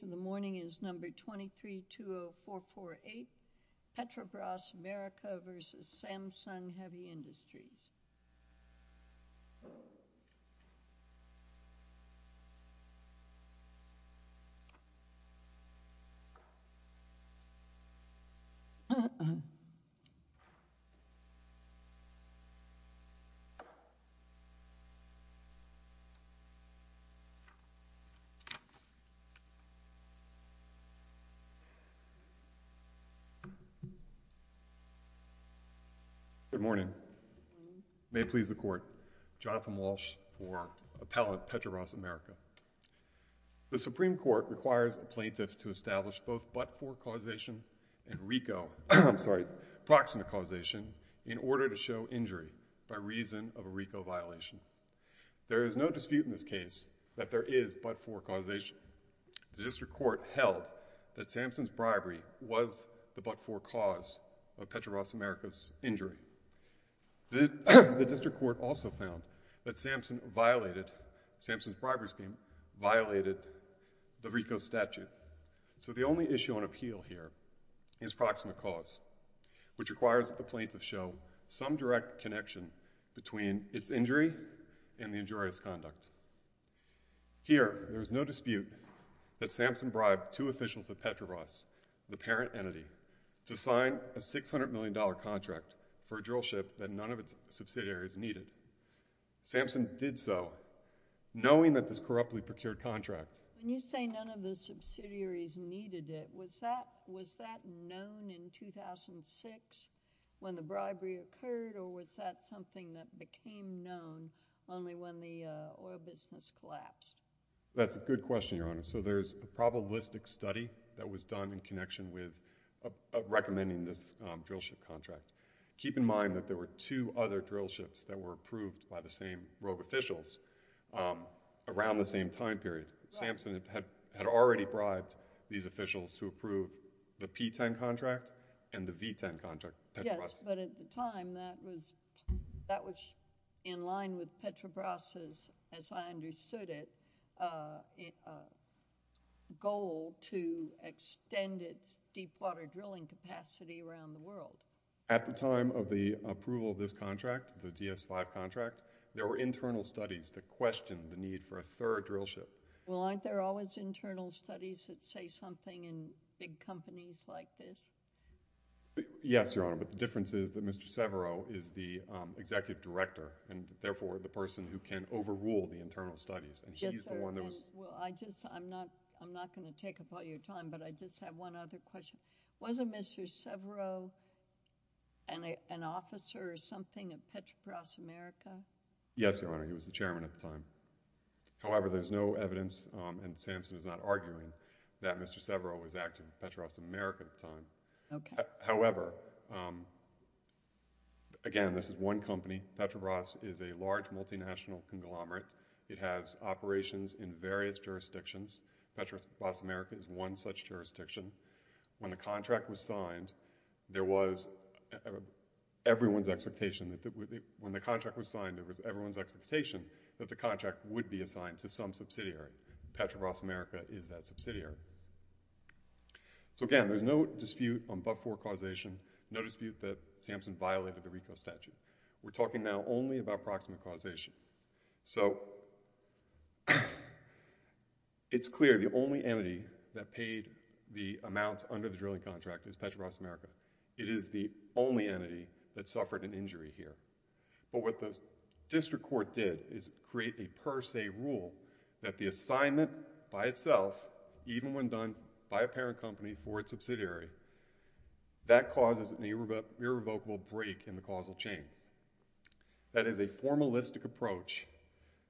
The morning is number 2320448, Petrobras, America v. Samsung Heavy Industries. Good morning. May it please the court. Jonathan Walsh for Appellate Petrobras, America. The Supreme Court requires a plaintiff to establish both but-for causation and RICO, I'm sorry, proximate causation in order to show injury by reason of a RICO violation. There is no dispute in this case that there is but-for causation. The district court held that Samsung's bribery was the but-for cause of Petrobras, America's injury. The district court also found that Samsung violated, Samsung's bribery scheme violated the RICO statute. So the only issue on appeal here is proximate cause, which requires that the plaintiff show some direct connection between its injury and the injurious conduct. Here, there is no dispute that Samsung bribed two officials of Petrobras, the parent entity, to sign a $600 million contract for a drill ship that none of its subsidiaries needed. Samsung did so knowing that this corruptly procured contract- When you say none of the subsidiaries needed it, was that known in 2006 when the bribery occurred, or was that something that became known only when the oil business collapsed? That's a good question, Your Honor. So there's a probabilistic study that was done in connection with recommending this drill ship contract. Keep in mind that there were two other drill ships that were approved by the same rogue officials around the same time period. Samsung had already bribed these officials to approve the P-10 contract and the V-10 contract. Yes, but at the time, that was in line with Petrobras's, as I understood it, goal to extend its deep water drilling capacity around the world. At the time of the approval of this contract, the DS-5 contract, there were internal studies that questioned the need for a third drill ship. Well, aren't there always internal studies that say something in big companies like this? Yes, Your Honor, but the difference is that Mr. Severo is the executive director, and therefore, the person who can overrule the internal studies, and he's the one that was- Well, I'm not going to take up all your time, but I just have one other question. Wasn't Mr. Severo an officer or something at Petrobras America? Yes, Your Honor, he was the chairman at the time. However, there's no evidence, and Samsung is not arguing, that Mr. Severo was active at Petrobras America at the time. However, again, this is one company. Petrobras is a large multinational conglomerate. It has operations in various jurisdictions. Petrobras America is one such jurisdiction. When the contract was signed, there was everyone's expectation that when the contract was signed, there was everyone's expectation that the company would be subsidiary. So again, there's no dispute on but-for causation, no dispute that Samsung violated the RICO statute. We're talking now only about proximate causation. So it's clear the only entity that paid the amounts under the drilling contract is Petrobras America. It is the only entity that suffered an injury here, but what the district court did is create a per se rule that the assignment by itself, even when done by a parent company for its subsidiary, that causes an irrevocable break in the causal chain. That is a formalistic approach,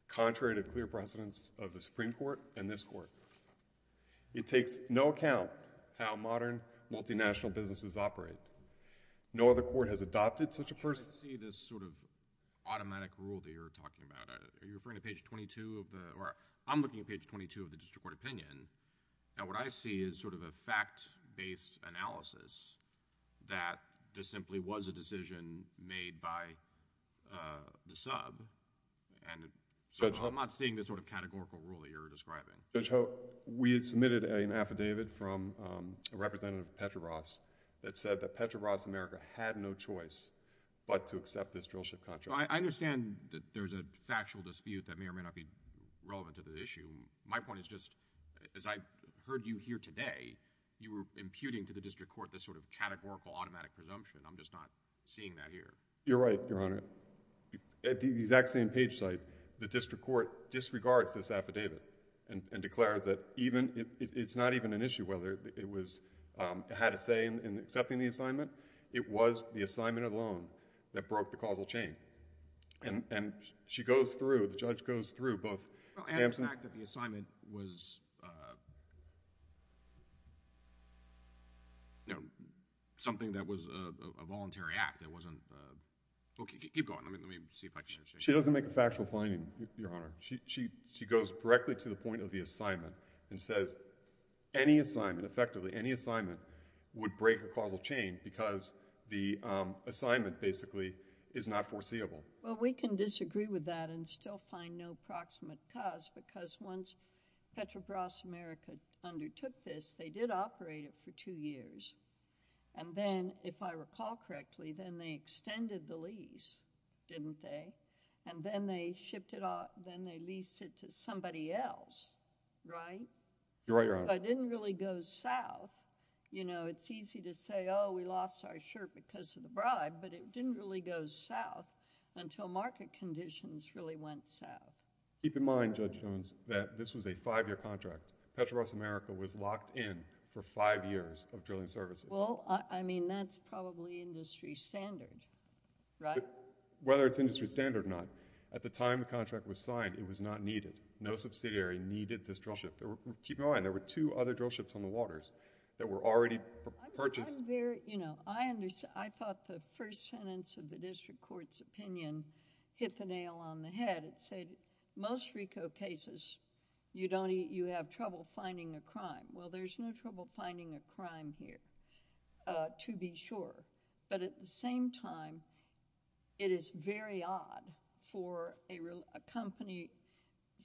contrary to clear precedence of the Supreme Court and this Court. It takes no account how modern multinational businesses operate. No other court has adopted such a person. I see this sort of automatic rule that you're talking about. Are you referring to page 22 of the, or I'm looking at page 22 of the district court opinion, and what I see is sort of a fact-based analysis that this simply was a decision made by the sub, and so I'm not seeing this sort of categorical rule that you're describing. Judge Hope, we had submitted an affidavit from Representative Petrobras that said that Petrobras America had no choice but to accept this drill ship contract. I understand that there's a factual dispute that may or may not be relevant to the issue. My point is just, as I heard you here today, you were imputing to the district court this sort of categorical automatic presumption. I'm just not seeing that here. You're right, Your Honor. At the exact same page site, the district court disregards this affidavit and declares that even, it's not even an issue whether it was, had a say in accepting the assignment. It was the assignment alone that broke the causal chain, and she goes through, the judge goes through both. I have an act that the assignment was, you know, something that was a voluntary act. It wasn't, okay, keep going. Let me see if I can. She doesn't make a factual finding, Your Honor. She goes directly to the point of the assignment and says any assignment, effectively any assignment, would break a causal chain because the assignment basically is not foreseeable. Well, we can disagree with that and still find no proximate cause because once Petrobras America undertook this, they did operate it for two years, and then, if I recall correctly, then they extended the lease, didn't they? And then they shipped it off, then they leased it to somebody else, right? You're right, Your Honor. It didn't really go south. You know, it's easy to say, oh, we lost our shirt because of the bribe, but it didn't really go south until market conditions really went south. Keep in mind, Judge Jones, that this was a five-year contract. Petrobras America was locked in for five years of drilling services. Well, I mean, that's probably industry standard, right? Whether it's industry standard or not, at the time the contract was signed, it was not needed. No subsidiary needed this drill ship. Keep in mind, there were two other drill ships on the waters that were already purchased. I thought the first sentence of the district court's opinion hit the nail on the head. It said most RICO cases, you have trouble finding a crime. Well, there's no trouble finding a crime here, to be sure. But at the same time, it is very odd for a company,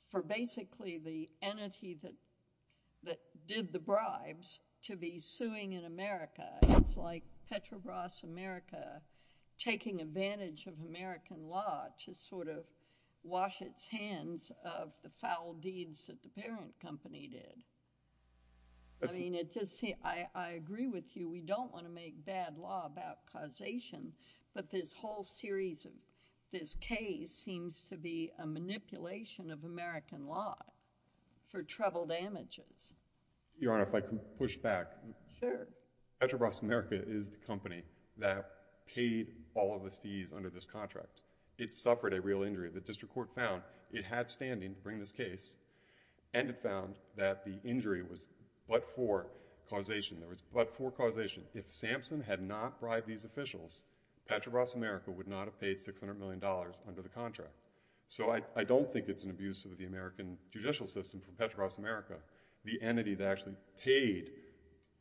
for basically the entity that that did the bribes to be suing in America. It's like Petrobras America taking advantage of American law to sort of wash its hands of the foul deeds that the parent company did. I mean, it's just, I agree with you. We don't want to make bad law about causation, but this whole series of this case seems to be a manipulation of American law for trouble damages. Your Honor, if I can push back. Sure. Petrobras America is the company that paid all of the fees under this contract. It suffered a real injury. The district court found it had standing to bring this case, and it found that the injury was but for causation. There was but for causation. If Sampson had not bribed these officials, Petrobras America would not have paid $600 million under the contract. So I don't think it's an abuse of the American judicial system for Petrobras America, the entity that actually paid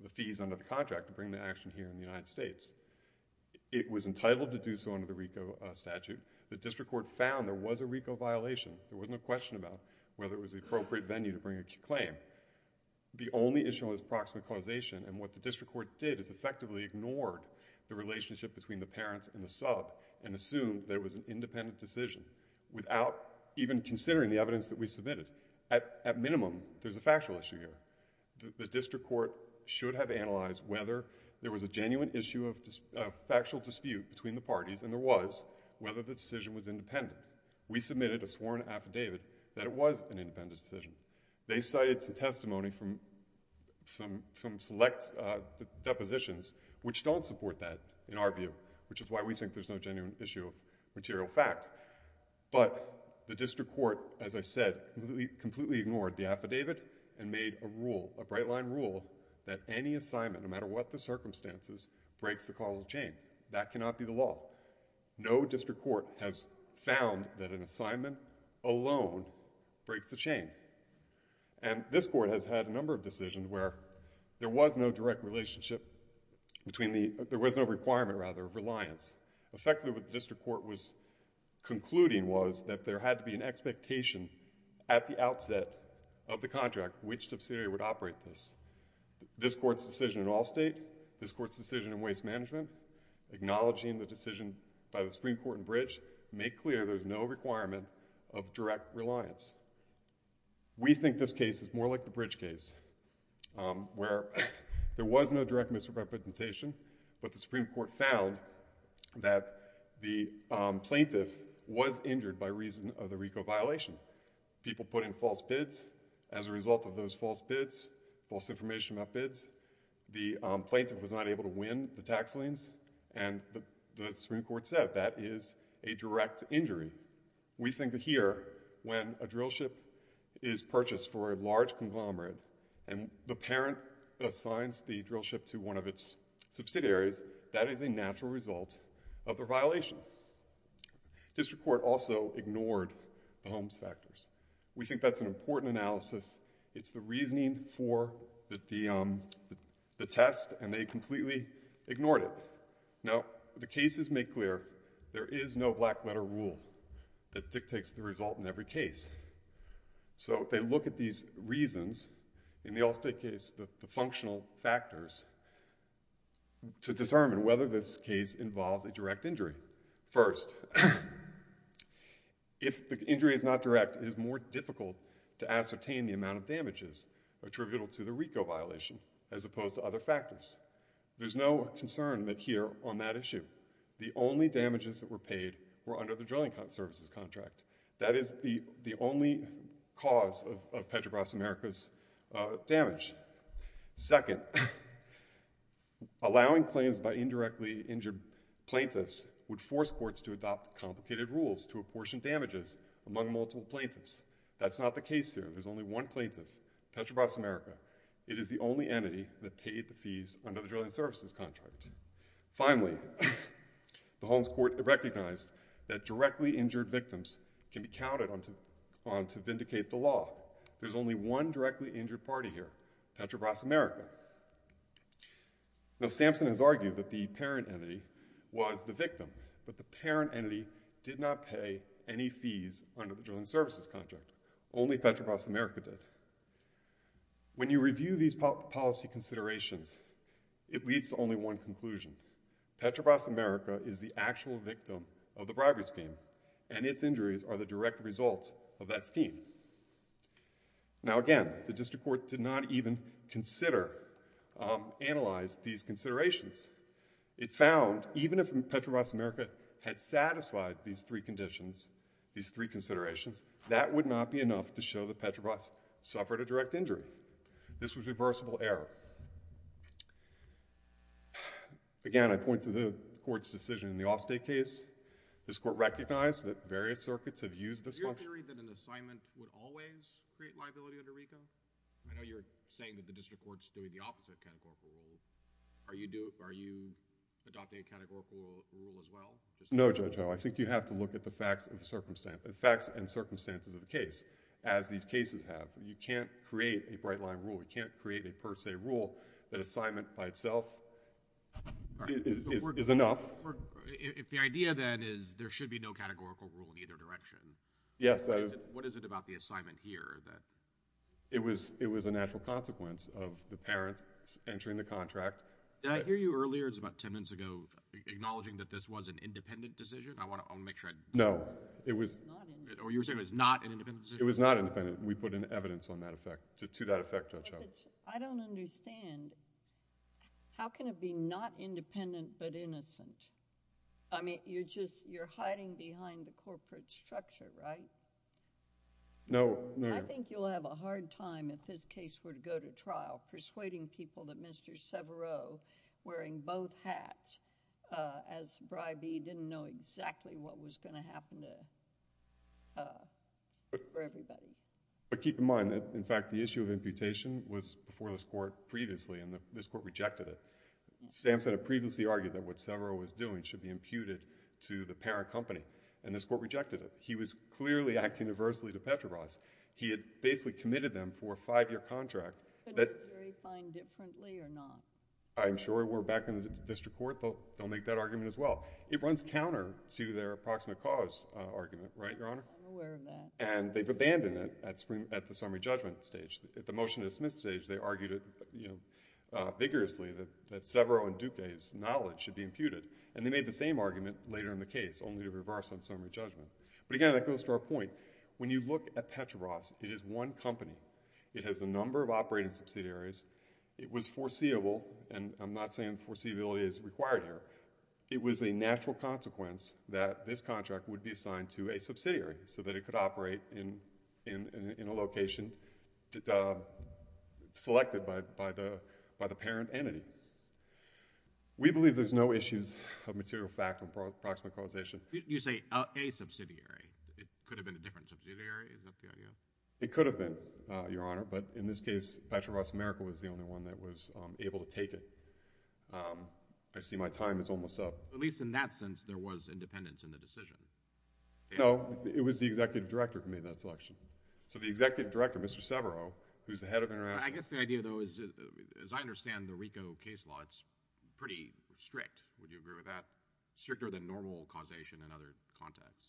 the fees under the contract to bring the action here in the United States. It was entitled to do so under the RICO statute. The district court found there was a appropriate venue to bring a claim. The only issue was approximate causation, and what the district court did is effectively ignored the relationship between the parents and the sub and assumed there was an independent decision without even considering the evidence that we submitted. At minimum, there's a factual issue here. The district court should have analyzed whether there was a genuine issue of factual dispute between the parties, and there was, whether the decision was independent. We submitted a sworn affidavit that it was an independent decision. They cited some testimony from select depositions, which don't support that in our view, which is why we think there's no genuine issue of material fact. But the district court, as I said, completely ignored the affidavit and made a rule, a bright-line rule, that any assignment, no matter what the circumstances, breaks the causal chain. That cannot be the law. No district court has found that an assignment alone breaks the chain. And this court has had a number of decisions where there was no direct relationship between the, there was no requirement, rather, of reliance. Effectively, what the district court was concluding was that there had to be an expectation at the outset of the contract which subsidiary would operate this. This court's decision in waste management, acknowledging the decision by the Supreme Court and Bridge, made clear there's no requirement of direct reliance. We think this case is more like the Bridge case, where there was no direct misrepresentation, but the Supreme Court found that the plaintiff was injured by reason of the RICO violation. People put in false bids. As a result, they come in, the tax liens, and the Supreme Court said that is a direct injury. We think that here, when a drill ship is purchased for a large conglomerate, and the parent assigns the drill ship to one of its subsidiaries, that is a natural result of the violation. District court also ignored the Holmes factors. We think that's an important analysis. It's the reasoning for the test, and they completely ignored it. Now, the cases make clear there is no black letter rule that dictates the result in every case. So they look at these reasons, in the Allstate case, the functional factors, to determine whether this case involves a direct injury. First, if the injury is not direct, it is more difficult to ascertain the amount of damages attributable to the RICO violation, as opposed to other factors. There's no concern here on that issue. The only damages that were paid were under the drilling services contract. That is the only cause of Petrobras America's damage. Second, allowing claims by indirectly injured plaintiffs would force courts to adopt complicated rules to apportion damages among multiple plaintiffs. That's not the case here. There's only one plaintiff, Petrobras America. It is the only entity that paid the fees under the drilling services contract. Finally, the Holmes court recognized that directly injured victims can be counted on to vindicate the law. There's only one directly injured party here, Petrobras America. Now, Sampson has argued that the parent entity was the victim, but the parent entity did not pay any fees under the drilling services contract. Only Petrobras America did. When you review these policy considerations, it leads to only one conclusion. Petrobras America is the actual victim of the bribery scheme, and its injuries are the direct result of that scheme. Now, again, the district court did not even consider, analyze these considerations. It found even if Petrobras America had satisfied these three conditions, these three considerations, that would not be enough to show that Petrobras suffered a direct injury. This was reversible error. Again, I point to the court's decision in the Allstate case. This court recognized that various have used this function. Is your theory that an assignment would always create liability under RICO? I know you're saying that the district court's doing the opposite categorical rule. Are you adopting a categorical rule as well? No, Judge Howe. I think you have to look at the facts and circumstances of the case, as these cases have. You can't create a bright line rule. You can't create a per se rule that assignment by itself is enough. If the idea then is there should be no categorical rule in either direction, what is it about the assignment here? It was a natural consequence of the parents entering the contract. Did I hear you earlier, it was about 10 minutes ago, acknowledging that this was an independent decision? I want to make sure I... No, it was... It was not independent. Or you were saying it was not an independent decision? It was not independent. We put an evidence on that effect, to that effect, Judge Howe. I don't understand. How can it be not independent but innocent? I mean, you're hiding behind the corporate structure, right? No, no, no. I think you'll have a hard time, if this case were to go to trial, persuading people that Mr. Severo, wearing both hats, as bribee, didn't know exactly what was going to happen for everybody. But keep in mind that, in fact, the issue of imputation was before this Court previously, and this Court rejected it. Stamps had previously argued that what Severo was doing should be imputed to the parent company, and this Court rejected it. He was clearly acting adversely to Petrobras. He had basically committed them for a five-year contract that... Could the jury find differently or not? I'm sure if we're back in the district court, they'll make that argument as well. It runs counter to their approximate cause argument, right, Your Honor? I'm aware of that. And they've abandoned it at the summary judgment stage. At the motion-to-dismiss stage, they argued vigorously that Severo and Duque's knowledge should be imputed, and they made the same argument later in the case, only to reverse on summary judgment. But again, that goes to our point. When you look at Petrobras, it is one company. It has a number of operating subsidiaries. It was foreseeable, and I'm not saying foreseeability is required here. It was a natural consequence that this contract would be assigned to a subsidiary, so that it could operate in a location selected by the parent entity. We believe there's no issues of material fact or approximate causation. You say a subsidiary. It could have been a different subsidiary. Is that the idea? It could have been, Your Honor. But in this case, Petrobras America was the only one that was able to take it. I see my time is almost up. At least in that sense, there was independence in the decision. No. It was the executive director who made that selection. So the executive director, Mr. Severo, who's the head of international... I guess the idea, though, is, as I understand the RICO case law, it's pretty strict. Would you agree with that? Stricter than normal causation in other contexts.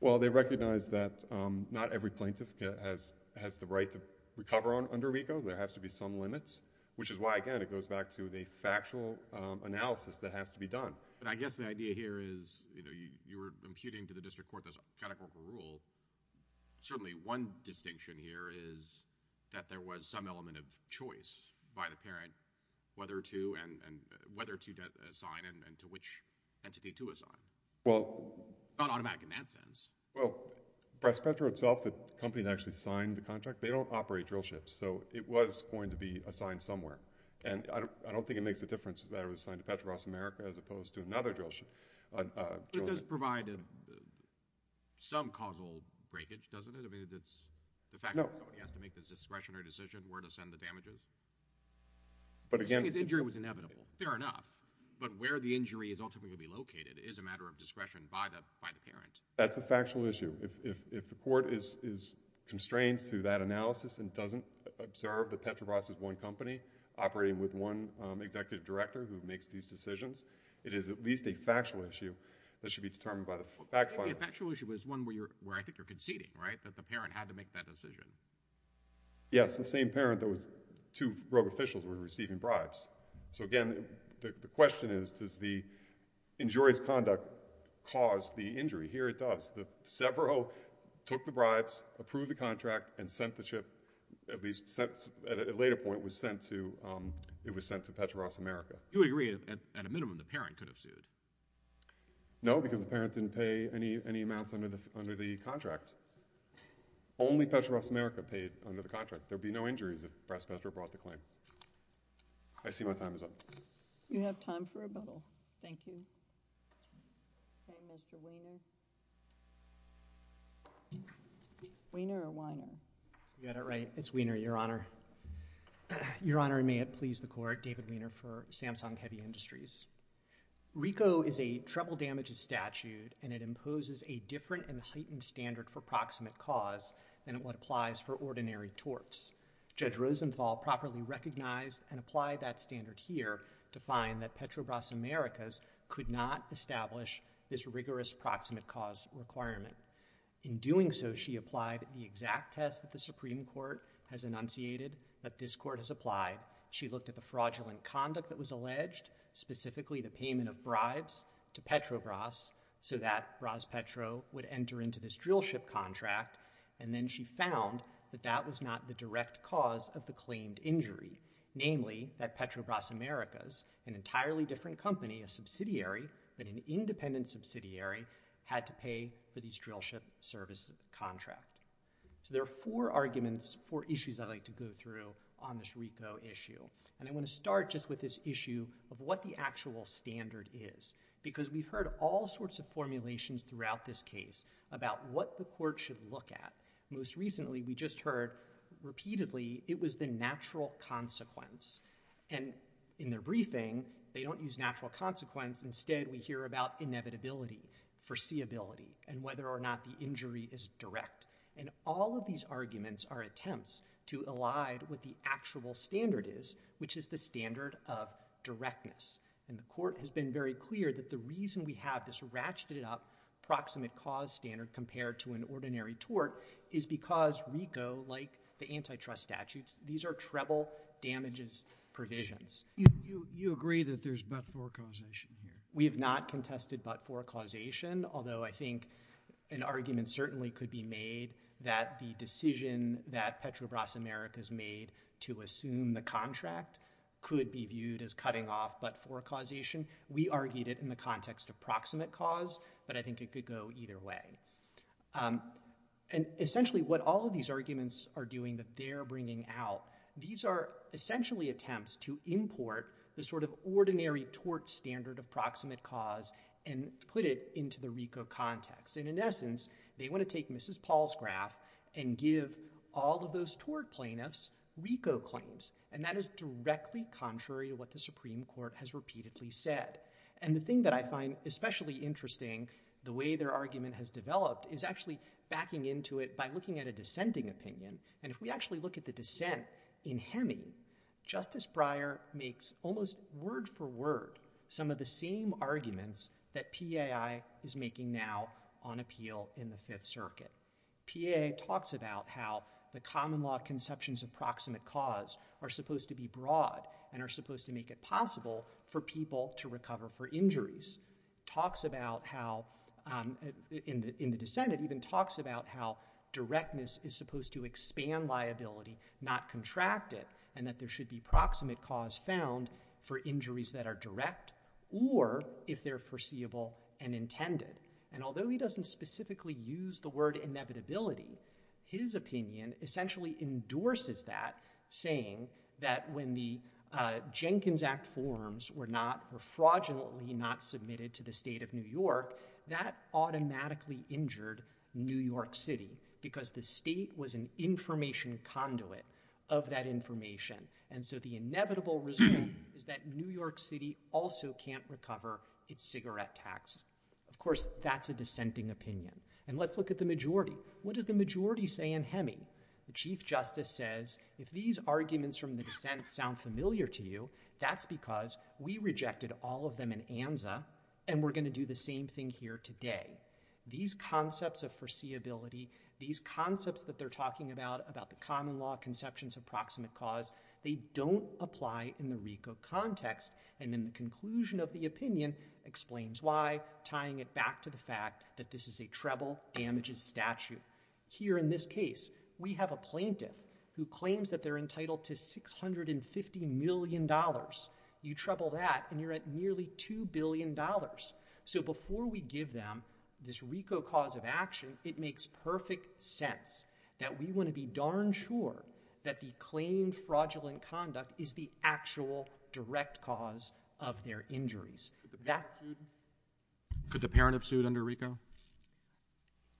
Well, they recognize that not every plaintiff has the right to recover under RICO. There has to be some limits, which is why, again, it goes back to the factual analysis that has to be done. But I guess the idea here is, you know, you were imputing to the district court this categorical rule. Certainly one distinction here is that there was some element of choice by the parent whether to assign and to which entity to assign. Well... It's not automatic in that sense. Well, by Spectra itself, the company that actually signed the contract, they don't operate drill ships. So it was going to be assigned somewhere. And I don't think it makes a difference that it was assigned to Petrobras America as opposed to another drill ship. But it does provide some causal breakage, doesn't it? I mean, it's the fact that somebody has to make this discretionary decision where to send the damages. But again... The thing is, injury was inevitable. Fair enough. But where the injury is ultimately going to be located is a matter of discretion by the parent. That's a factual issue. If the court is constrained through that analysis and doesn't observe that Petrobras is one company operating with one executive director who makes these decisions, it is at least a factual issue that should be determined by the fact finder. Well, maybe a factual issue is one where I think you're conceding, right, that the parent had to make that decision. Yes, the same parent that was... Two rogue officials were receiving bribes. So again, the question is, does the injurious conduct cause the injury? Here it does. The Severo took the bribes, approved the contract, and sent the ship, at least at a later point, it was sent to Petrobras America. You would agree, at a minimum, the parent could have sued? No, because the parent didn't pay any amounts under the contract. Only Petrobras America paid under the contract. There would be no injuries if Petrobras brought the claim. I see my time is up. You have time for rebuttal. Thank you. Okay, Mr. Wiener. Wiener or Weiner? You got it right. It's Wiener, Your Honor. Your Honor, may it please the Court, David Wiener for Samsung Heavy Industries. RICO is a treble damages statute, and it imposes a different and heightened standard for proximate cause than what applies for ordinary torts. Judge Rosenthal properly recognized and applied that standard here to find that Petrobras Americas could not establish this rigorous proximate cause requirement. In doing so, she applied the exact test that the Supreme Court has enunciated that this Court has applied. She looked at the fraudulent conduct that was alleged, specifically the payment of bribes to Petrobras, so that Rospetro would enter into this drillship contract. And then she found that that was not the direct cause of the claimed injury, namely that Petrobras Americas, an entirely different company, a subsidiary, but an independent subsidiary, had to pay for this drillship service contract. So there are four arguments, four issues I'd like to go through on this RICO issue. And I want to start just with this issue of what the actual standard is, because we've heard all sorts of formulations throughout this case about what the Court should look at. Most recently, we just heard repeatedly it was the natural consequence. And in their briefing, they don't use natural consequence. Instead, we hear about inevitability, foreseeability, and whether or not the injury is direct. All of these arguments are attempts to elide what the actual standard is, which is the standard of directness. And the Court has been very clear that the reason we have this ratcheted-up proximate cause standard compared to an ordinary tort is because RICO, like the antitrust statutes, these are treble damages provisions. You agree that there's but-for causation here? We have not contested but-for causation, although I think an argument certainly could be made that the decision that Petrobras Americas made to assume the contract could be viewed as cutting off but-for causation. We argued it in the context of proximate cause, but I think it could go either way. And essentially, what all of these arguments are doing that they're bringing out, these are essentially attempts to import the sort of ordinary tort standard of proximate cause and put it into the RICO context. And in essence, they want to take Mrs. Paul's graph and give all of those tort plaintiffs RICO claims. And that is directly contrary to what the Supreme Court has repeatedly said. And the thing that I find especially interesting, the way their argument has developed, is actually backing into it by looking at a dissenting opinion. And if we actually look at the dissent in Heming, Justice Breyer makes almost word-for-word some of the same arguments that PAI is making now on appeal in the Fifth Circuit. PAI talks about how the common law conceptions of proximate cause are supposed to be broad and are supposed to make it possible for people to recover for injuries. Talks about how, in the dissent, it even talks about how directness is supposed to expand liability, not contract it, and that there should be proximate cause found for injuries that are direct or if they're foreseeable and intended. And although he doesn't specifically use the word inevitability, his opinion essentially endorses that, saying that when the Jenkins Act forms were not, were fraudulently not submitted to the state of New York, that automatically injured New York City because the state was an information conduit of that information. And so the inevitable result is that New York City also can't recover its cigarette tax. Of course, that's a dissenting opinion. And let's look at the majority. What does the majority say in Heming? The Chief Justice says, if these arguments from the dissent sound familiar to you, that's because we rejected all of them in ANZA and we're going to do the same thing here today. These concepts of foreseeability, these concepts that they're talking about, about the common law conceptions of proximate cause, they don't apply in the RICO context. And then the conclusion of the opinion explains why, tying it back to the fact that this is a treble damages statute. Here in this case, we have a plaintiff who claims that they're entitled to $650 million. You treble that and you're at nearly $2 billion. So before we give them this RICO cause of action, it makes perfect sense that we want to be darn sure that the claimed fraudulent conduct is the actual direct cause of their injuries. Could the parent have sued under RICO?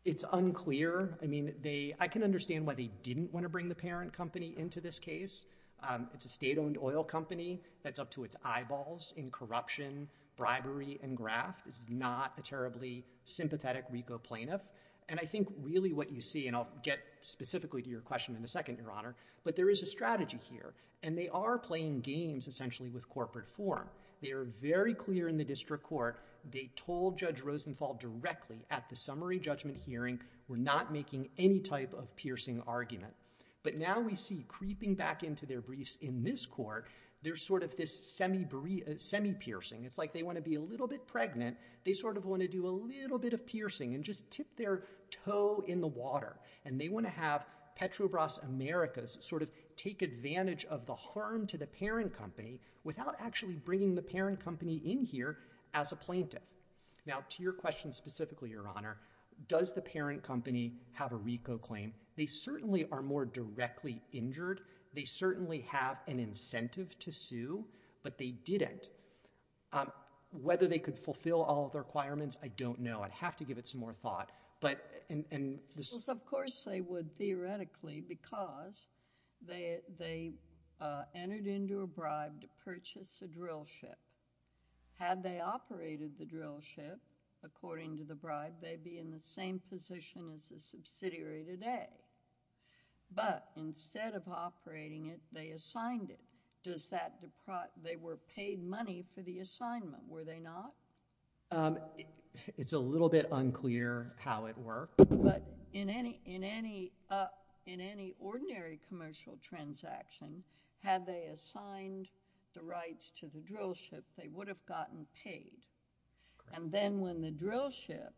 It's unclear. I mean, I can understand why they didn't want to bring the parent company into this case. It's a state-owned oil company. That's up to its eyeballs in corruption, bribery, and graft. It's not a terribly sympathetic RICO plaintiff. I think really what you see, and I'll get specifically to your question in a second, Your Honor, but there is a strategy here. And they are playing games, essentially, with corporate form. They are very clear in the district court. They told Judge Rosenthal directly at the summary judgment hearing, we're not making any type of piercing argument. But now we see, creeping back into their briefs in this court, there's sort of this semi-piercing. It's like they want to be a little bit pregnant. They sort of want to do a little bit of piercing and just tip their toe in the water. And they want to have Petrobras Americas sort of take advantage of the harm to the parent company without actually bringing the parent company in here as a plaintiff. Now, to your question specifically, Your Honor, does the parent company have a RICO claim? They certainly are more directly injured. They certainly have an incentive to sue. But they didn't. Whether they could fulfill all the requirements, I don't know. I'd have to give it some more thought. But in this- Of course they would, theoretically, because they entered into a bribe to purchase a drill ship. Had they operated the drill ship, according to the bribe, they'd be in the same position as the subsidiary today. But instead of operating it, they assigned it. They were paid money for the assignment, were they not? It's a little bit unclear how it worked. But in any ordinary commercial transaction, had they assigned the rights to the drill ship, they would have gotten paid. And then when the drill ship,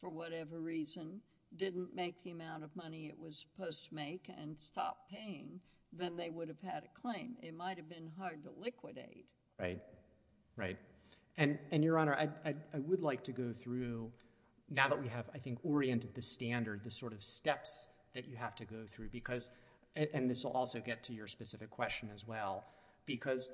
for whatever reason, didn't make the amount of money it was supposed to make and stopped paying, then they would have had a claim. It might have been hard to liquidate. Right. Right. And Your Honor, I would like to go through, now that we have, I think, oriented the standard, the sort of steps that you have to go through. And this will also get to your specific question as well. Because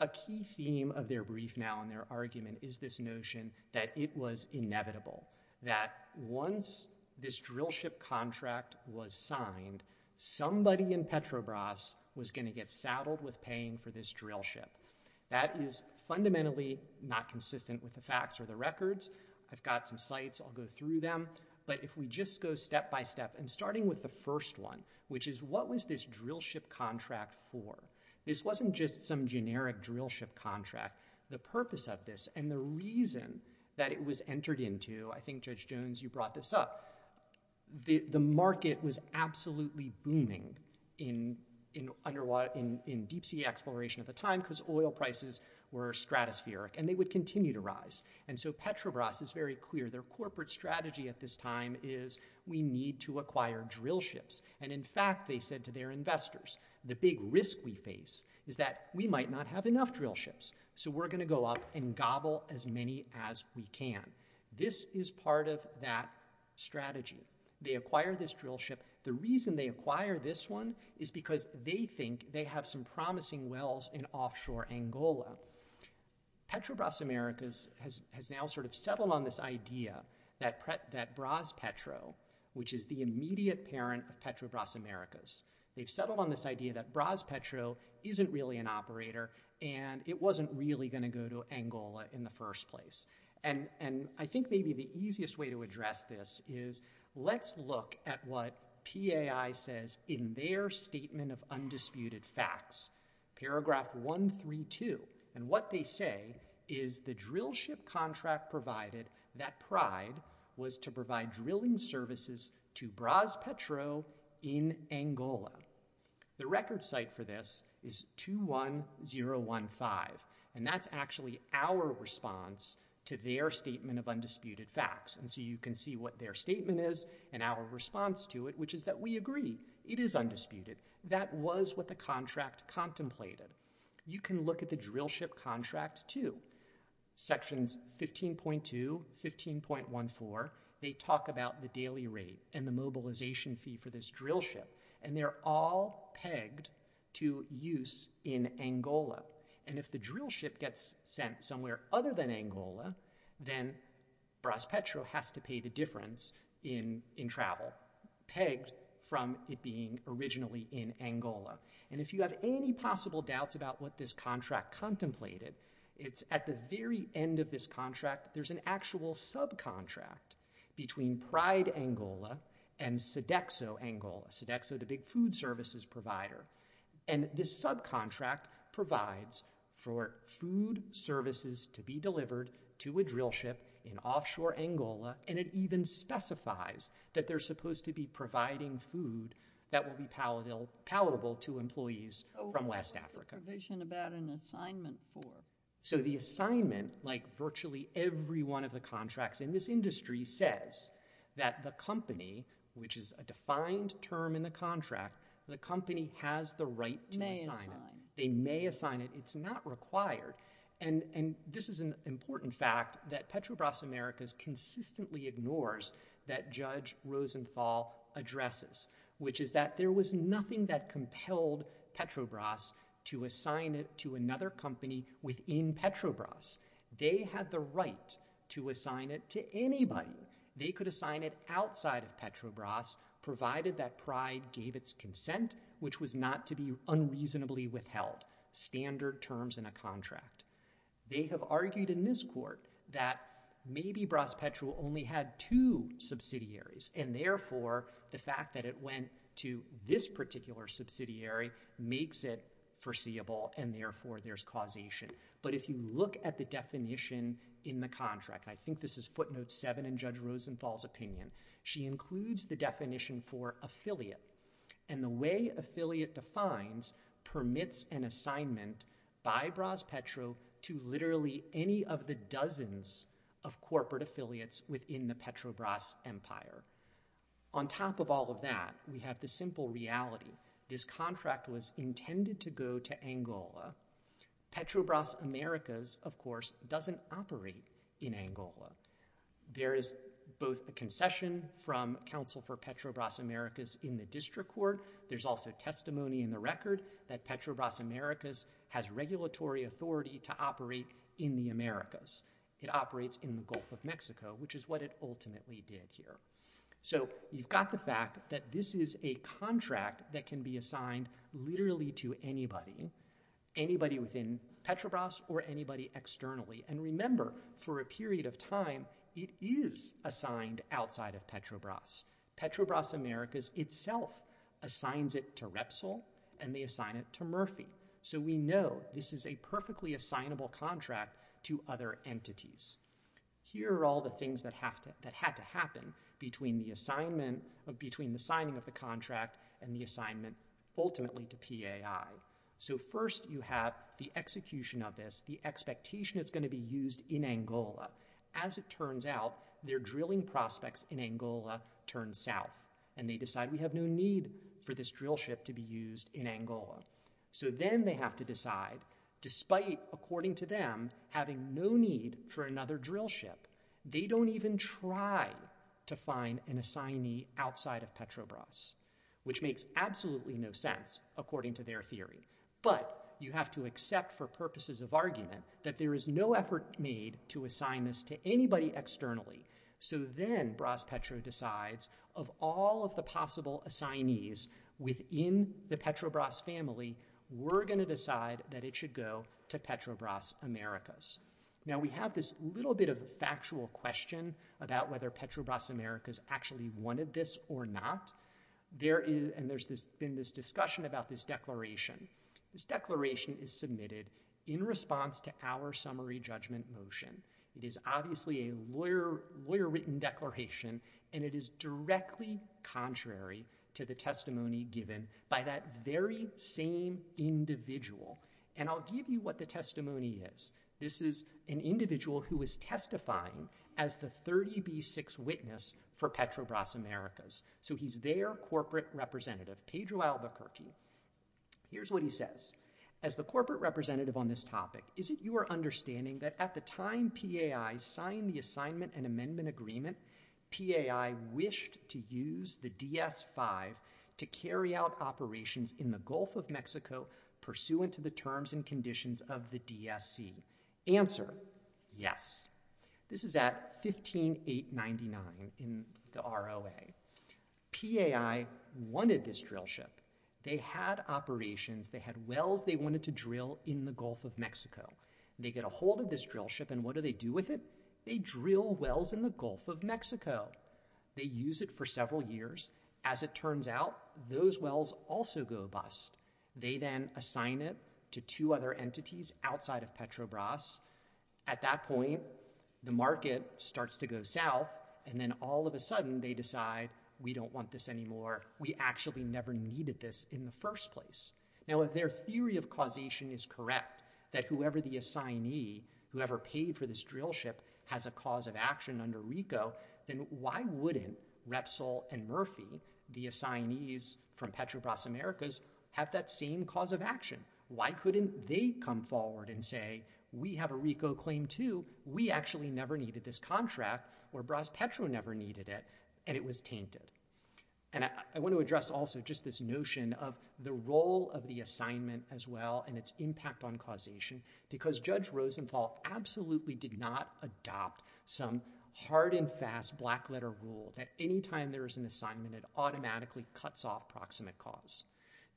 a key theme of their brief now and their argument is this notion that it was inevitable. That once this drill ship contract was signed, somebody in Petrobras was going to get saddled with paying for this drill ship. That is fundamentally not consistent with the facts or the records. I've got some sites. I'll go through them. But if we just go step by step. And starting with the first one, which is what was this drill ship contract for? This wasn't just some generic drill ship contract. The purpose of this and the reason that it was entered into, I think Judge Jones, you brought this up, the market was absolutely booming in deep sea exploration at the time. Because oil prices were stratospheric and they would continue to rise. And so Petrobras is very clear. Their corporate strategy at this time is we need to acquire drill ships. And in fact, they said to their investors, the big risk we face is that we might not have enough drill ships. So we're going to go up and gobble as many as we can. This is part of that strategy. They acquire this drill ship. The reason they acquire this one is because they think they have some promising wells in offshore Angola. Petrobras Americas has now sort of settled on this idea that Bras Petro, which is the immediate parent of Petrobras Americas, they've settled on this idea that Bras Petro isn't really an operator and it wasn't really going to go to Angola in the first place. And I think maybe the easiest way to address this is let's look at what PAI says in their statement of undisputed facts. Paragraph 132. And what they say is the drill ship contract provided that pride was to provide drilling services to Bras Petro in Angola. The record site for this is 21015. And that's actually our response to their statement of undisputed facts. And so you can see what their statement is and our response to it, which is that we agree. It is undisputed. That was what the contract contemplated. You can look at the drill ship contract too. Sections 15.2, 15.14, they talk about the daily rate and the mobilization fee for this drill ship. And they're all pegged to use in Angola. And if the drill ship gets sent somewhere other than Angola, then Bras Petro has to pay the difference in travel, pegged from it being originally in Angola. And if you have any possible doubts about what this contract contemplated, it's at the very end of this contract, there's an actual subcontract between Pride Angola and Sodexo Angola. Sodexo, the big food services provider. And this subcontract provides for food services to be delivered to a drill ship in offshore Angola. And it even specifies that they're supposed to be providing food that will be palatable to employees from West Africa. What's the provision about an assignment for? So the assignment, like virtually every one of the contracts in this industry says that the company, which is a defined term in the contract, the company has the right to assign it. They may assign it. It's not required. And this is an important fact that Petrobras Americas consistently ignores that Judge Rosenthal addresses, which is that there was nothing that compelled Petrobras to assign it to another company within Petrobras. They had the right to assign it to anybody. They could assign it outside of Petrobras, provided that Pride gave its consent, which was not to be unreasonably withheld. Standard terms in a contract. They have argued in this court that maybe Bras Petro only had two subsidiaries and therefore the fact that it went to this particular subsidiary makes it foreseeable and therefore there's causation. But if you look at the definition in the contract, I think this is footnote seven in Judge Rosenthal's opinion. She includes the definition for affiliate and the way affiliate defines permits an assignment by Bras Petro to literally any of the dozens of corporate affiliates within the Petrobras empire. On top of all of that, we have the simple reality. This contract was intended to go to Angola. Petrobras Americas, of course, doesn't operate in Angola. There is both the concession from counsel for Petrobras Americas in the district court. There's also testimony in the record that Petrobras Americas has regulatory authority to operate in the Americas. It operates in the Gulf of Mexico, which is what it ultimately did here. So you've got the fact that this is a contract that can be assigned literally to anybody, anybody within Petrobras or anybody externally. And remember, for a period of time, it is assigned outside of Petrobras. Petrobras Americas itself assigns it to Repsol and they assign it to Murphy. So we know this is a perfectly assignable contract to other entities. Here are all the things that have to, that had to happen between the assignment between the signing of the contract and the assignment ultimately to PAI. So first you have the execution of this, the expectation it's going to be used in Angola as it turns out, their drilling prospects in Angola turn south and they decide we have no need for this drill ship to be used in Angola. So then they have to decide, despite according to them, having no need for another drill ship, they don't even try to find an assignee outside of Petrobras, which makes absolutely no sense according to their theory. But you have to accept for purposes of argument that there is no effort made to assign this to anybody externally. So then Bras Petro decides of all of the possible assignees within the Petrobras family, we're going to decide that it should go to Petrobras Americas. Now we have this little bit of a factual question about whether Petrobras Americas actually wanted this or not. There is, and there's been this discussion about this declaration. This declaration is submitted in response to our summary judgment motion. It is obviously a lawyer written declaration and it is directly contrary to the testimony given by that very same individual. And I'll give you what the testimony is. This is an individual who is testifying as the 30B6 witness for Petrobras Americas. So he's their corporate representative, Pedro Albuquerque. Here's what he says. As the corporate representative on this topic, is it your understanding that at the time PAI signed the assignment and amendment agreement, PAI wished to use the DS-5 to carry out operations in the Gulf of Mexico pursuant to the terms and conditions of the DSC? Answer, yes. This is at 15899 in the ROA. PAI wanted this drill ship. They had operations. They had wells they wanted to drill in the Gulf of Mexico. They get ahold of this drill ship and what do they do with it? They drill wells in the Gulf of Mexico. They use it for several years. As it turns out, those wells also go bust. They then assign it to two other entities outside of Petrobras. At that point, the market starts to go south and then all of a sudden they decide we don't want this anymore. We actually never needed this in the first place. Now if their theory of causation is correct, that whoever the assignee, whoever paid for this drill ship, has a cause of action under RICO, then why wouldn't Repsol and Murphy, the assignees from Petrobras Americas, have that same cause of action? Why couldn't they come forward and say, we have a RICO claim too. We actually never needed this contract or Bras Petro never needed it and it was tainted. And I want to address also just this notion of the role of the assignment as well and its impact on causation because Judge Rosenthal absolutely did not adopt some hard and fast black letter rule that anytime there is an assignment, it automatically cuts off proximate cause.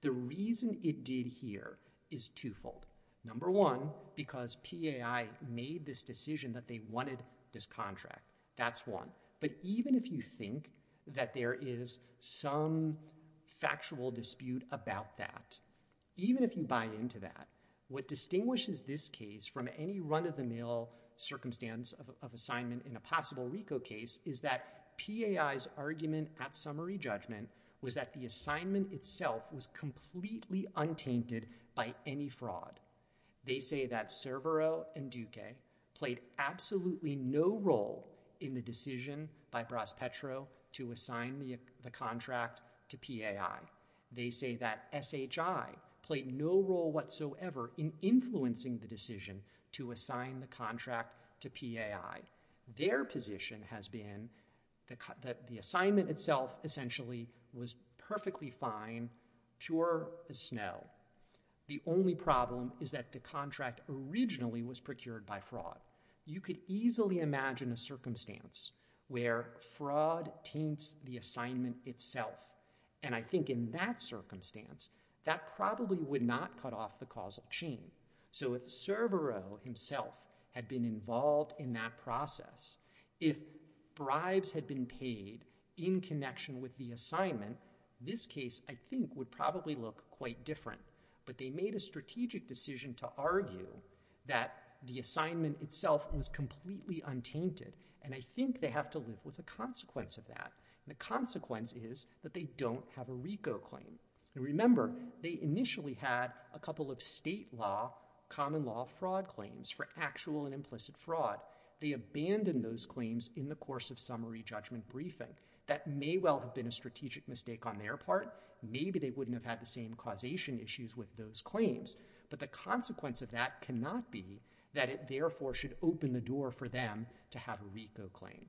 The reason it did here is twofold. Number one, because PAI made this decision that they wanted this contract. That's one. But even if you think that there is some factual dispute about that, even if you buy into that, what distinguishes this case from any run-of-the-mill circumstance of assignment in a possible RICO case is that PAI's argument at summary judgment was that the assignment itself was completely untainted by any fraud. They say that Cervero and Duque played absolutely no role in the decision by Braspetro to assign the contract to PAI. They say that SHI played no role whatsoever in influencing the decision to assign the contract to PAI. Their position has been that the assignment itself essentially was perfectly fine, pure as snow. The only problem is that the contract originally was procured by fraud. You could easily imagine a circumstance where fraud taints the assignment itself. And I think in that circumstance, that probably would not cut off the causal chain. So if Cervero himself had been involved in that process, if bribes had been paid in connection with the assignment, this case, I think, would probably look quite different. But they made a strategic decision to argue that the assignment itself was completely untainted. And I think they have to live with the consequence of that. And the consequence is that they don't have a RICO claim. And remember, they initially had a couple of state law, common law fraud claims for actual and implicit fraud. They abandoned those claims in the course of summary judgment briefing. That may well have been a strategic mistake on their part. Maybe they wouldn't have had the same causation issues with those claims. But the consequence of that cannot be that it therefore should open the door for them to have a RICO claim.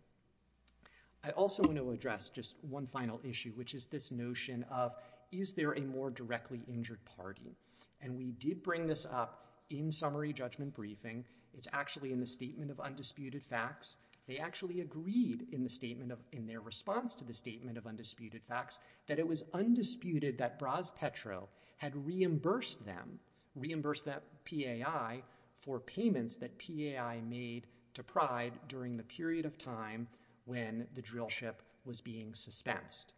I also want to address just one final issue, which is this notion of, is there a more directly injured party? And we did bring this up in summary judgment briefing. It's actually in the statement of undisputed facts. They actually agreed in their response to the statement of undisputed facts that it was undisputed that Bras Petro had reimbursed them, reimbursed that PAI for payments that PAI made to Pride during the period of time when the drillship was being suspensed.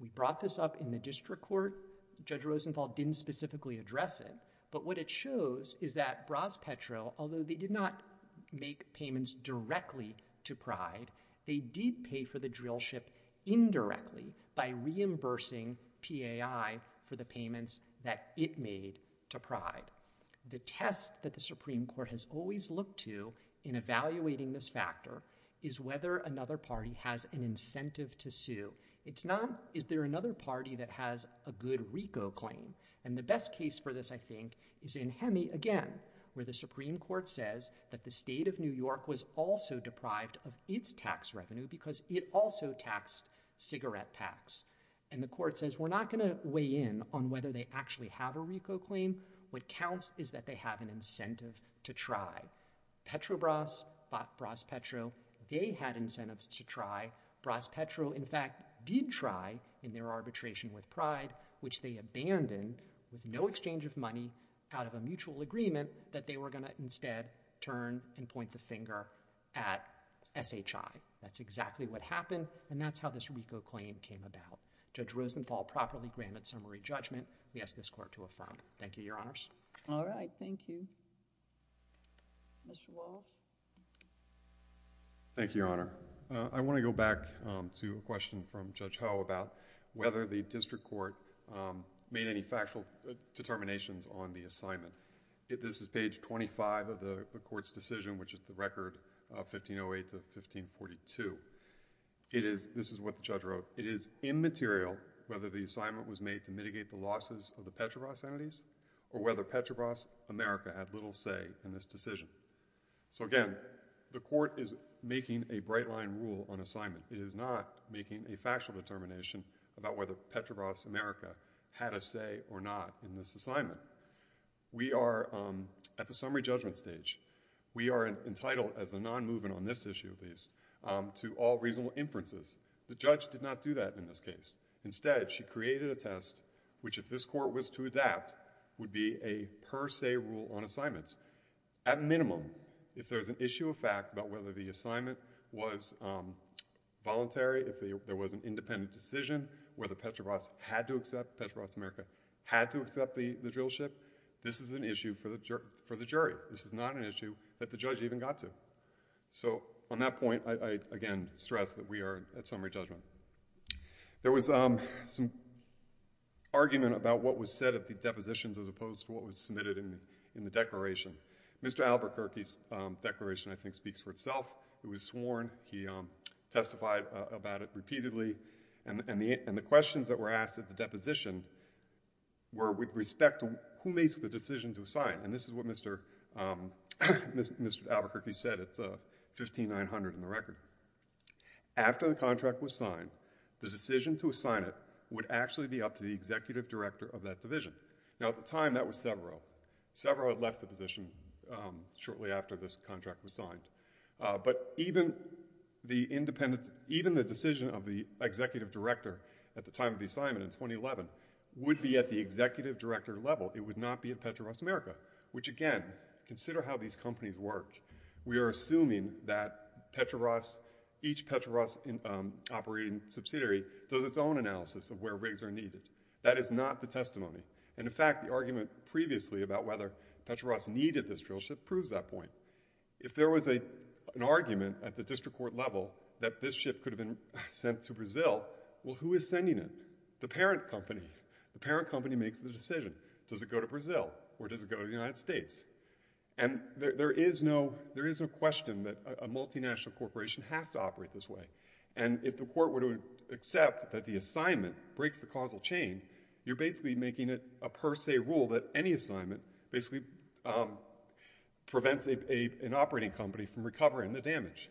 We brought this up in the district court. Judge Rosenthal didn't specifically address it. But what it shows is that Bras Petro, although they did not make payments directly to Pride, they did pay for the drillship indirectly by reimbursing PAI for the payments that it made to Pride. The test that the Supreme Court has always looked to in evaluating this factor is whether another party has an incentive to sue. It's not, is there another party that has a good RICO claim? And the best case for this, I think, is in Hemi again, where the Supreme Court says that the state of New York was also deprived of its tax revenue because it also taxed cigarette packs. And the court says, we're not going to weigh in on whether they actually have a RICO claim. What counts is that they have an incentive to try. Petrobras bought Bras Petro. They had incentives to try. Bras Petro, in fact, did try in their arbitration with Pride, which they abandoned with no exchange of money out of a mutual agreement that they were going to instead turn and point the finger at SHI. That's exactly what happened. And that's how this RICO claim came about. Judge Rosenthal properly granted summary judgment. We ask this court to affirm. Thank you, Your Honors. All right. Thank you. Mr. Walsh. Thank you, Your Honor. I want to go back to a question from Judge Howe about whether the district court made any factual determinations on the assignment. This is page 25 of the court's decision, which is the record of 1508 to 1542. It is, this is what the judge wrote. It is immaterial whether the assignment was made to mitigate the losses of the Petrobras entities or whether Petrobras America had little say in this decision. So again, the court is making a bright line rule on assignment. It is not making a factual determination about whether Petrobras America had a say or not in this assignment. We are at the summary judgment stage. We are entitled as a non-movement on this issue, at least, to all reasonable inferences. The judge did not do that in this case. Instead, she created a test, which if this court was to adapt, would be a per se rule on assignments. At minimum, if there's an issue of fact about whether the assignment was voluntary, if there was an independent decision, whether Petrobras had to accept, Petrobras America had to accept the drill ship, this is an issue for the jury. This is not an issue that the judge even got to. So on that point, I again stress that we are at summary judgment. There was some argument about what was said at the depositions as opposed to what was submitted in the declaration. Mr. Albuquerque's declaration, I think, speaks for itself. It was sworn. He testified about it repeatedly. And the questions that were asked at the deposition were with respect to who makes the decision to assign. And this is what Mr. Albuquerque said. It's 15900 in the record. After the contract was signed, the decision to assign it would actually be up to the executive director of that division. Now at the time, that was Severo. Severo had left the position shortly after this contract was signed. But even the independence, even the decision of the executive director at the time of the assignment in 2011 would be at the executive director level. It would not be at Petrobras America, which again, consider how these companies work. We are assuming that Petrobras, each Petrobras operating subsidiary does its own analysis of where rigs are needed. That is not the testimony. And in fact, the argument previously about whether Petrobras needed this drillship proves that point. If there was an argument at the district court level that this ship could have been sent to Brazil, well, who is sending it? The parent company. The parent company makes the decision. Does it go to Brazil or does it go to the United States? And there is no question that a multinational corporation has to operate this way. And if the court were to accept that the assignment breaks the causal chain, you're basically making it a per se rule that any assignment basically prevents an operating company from recovering the damage.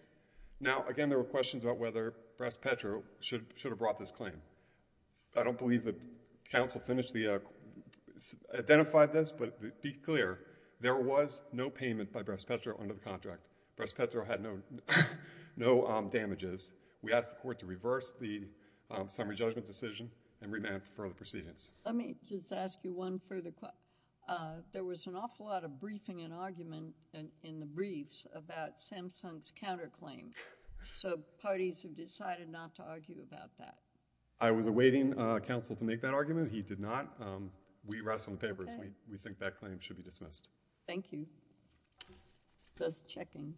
Now, again, there were questions about whether Bras Petro should have brought this claim. I don't believe the counsel identified this, but be clear, there was no payment by Bras Petro under the contract. Bras Petro had no damages. We asked the court to reverse the summary judgment decision and remand for the proceedings. Let me just ask you one further question. There was an awful lot of briefing and argument in the briefs about Samsung's counterclaim. So parties have decided not to argue about that. I was awaiting counsel to make that argument. He did not. We rest on the paper. We think that claim should be dismissed. Thank you. Just checking.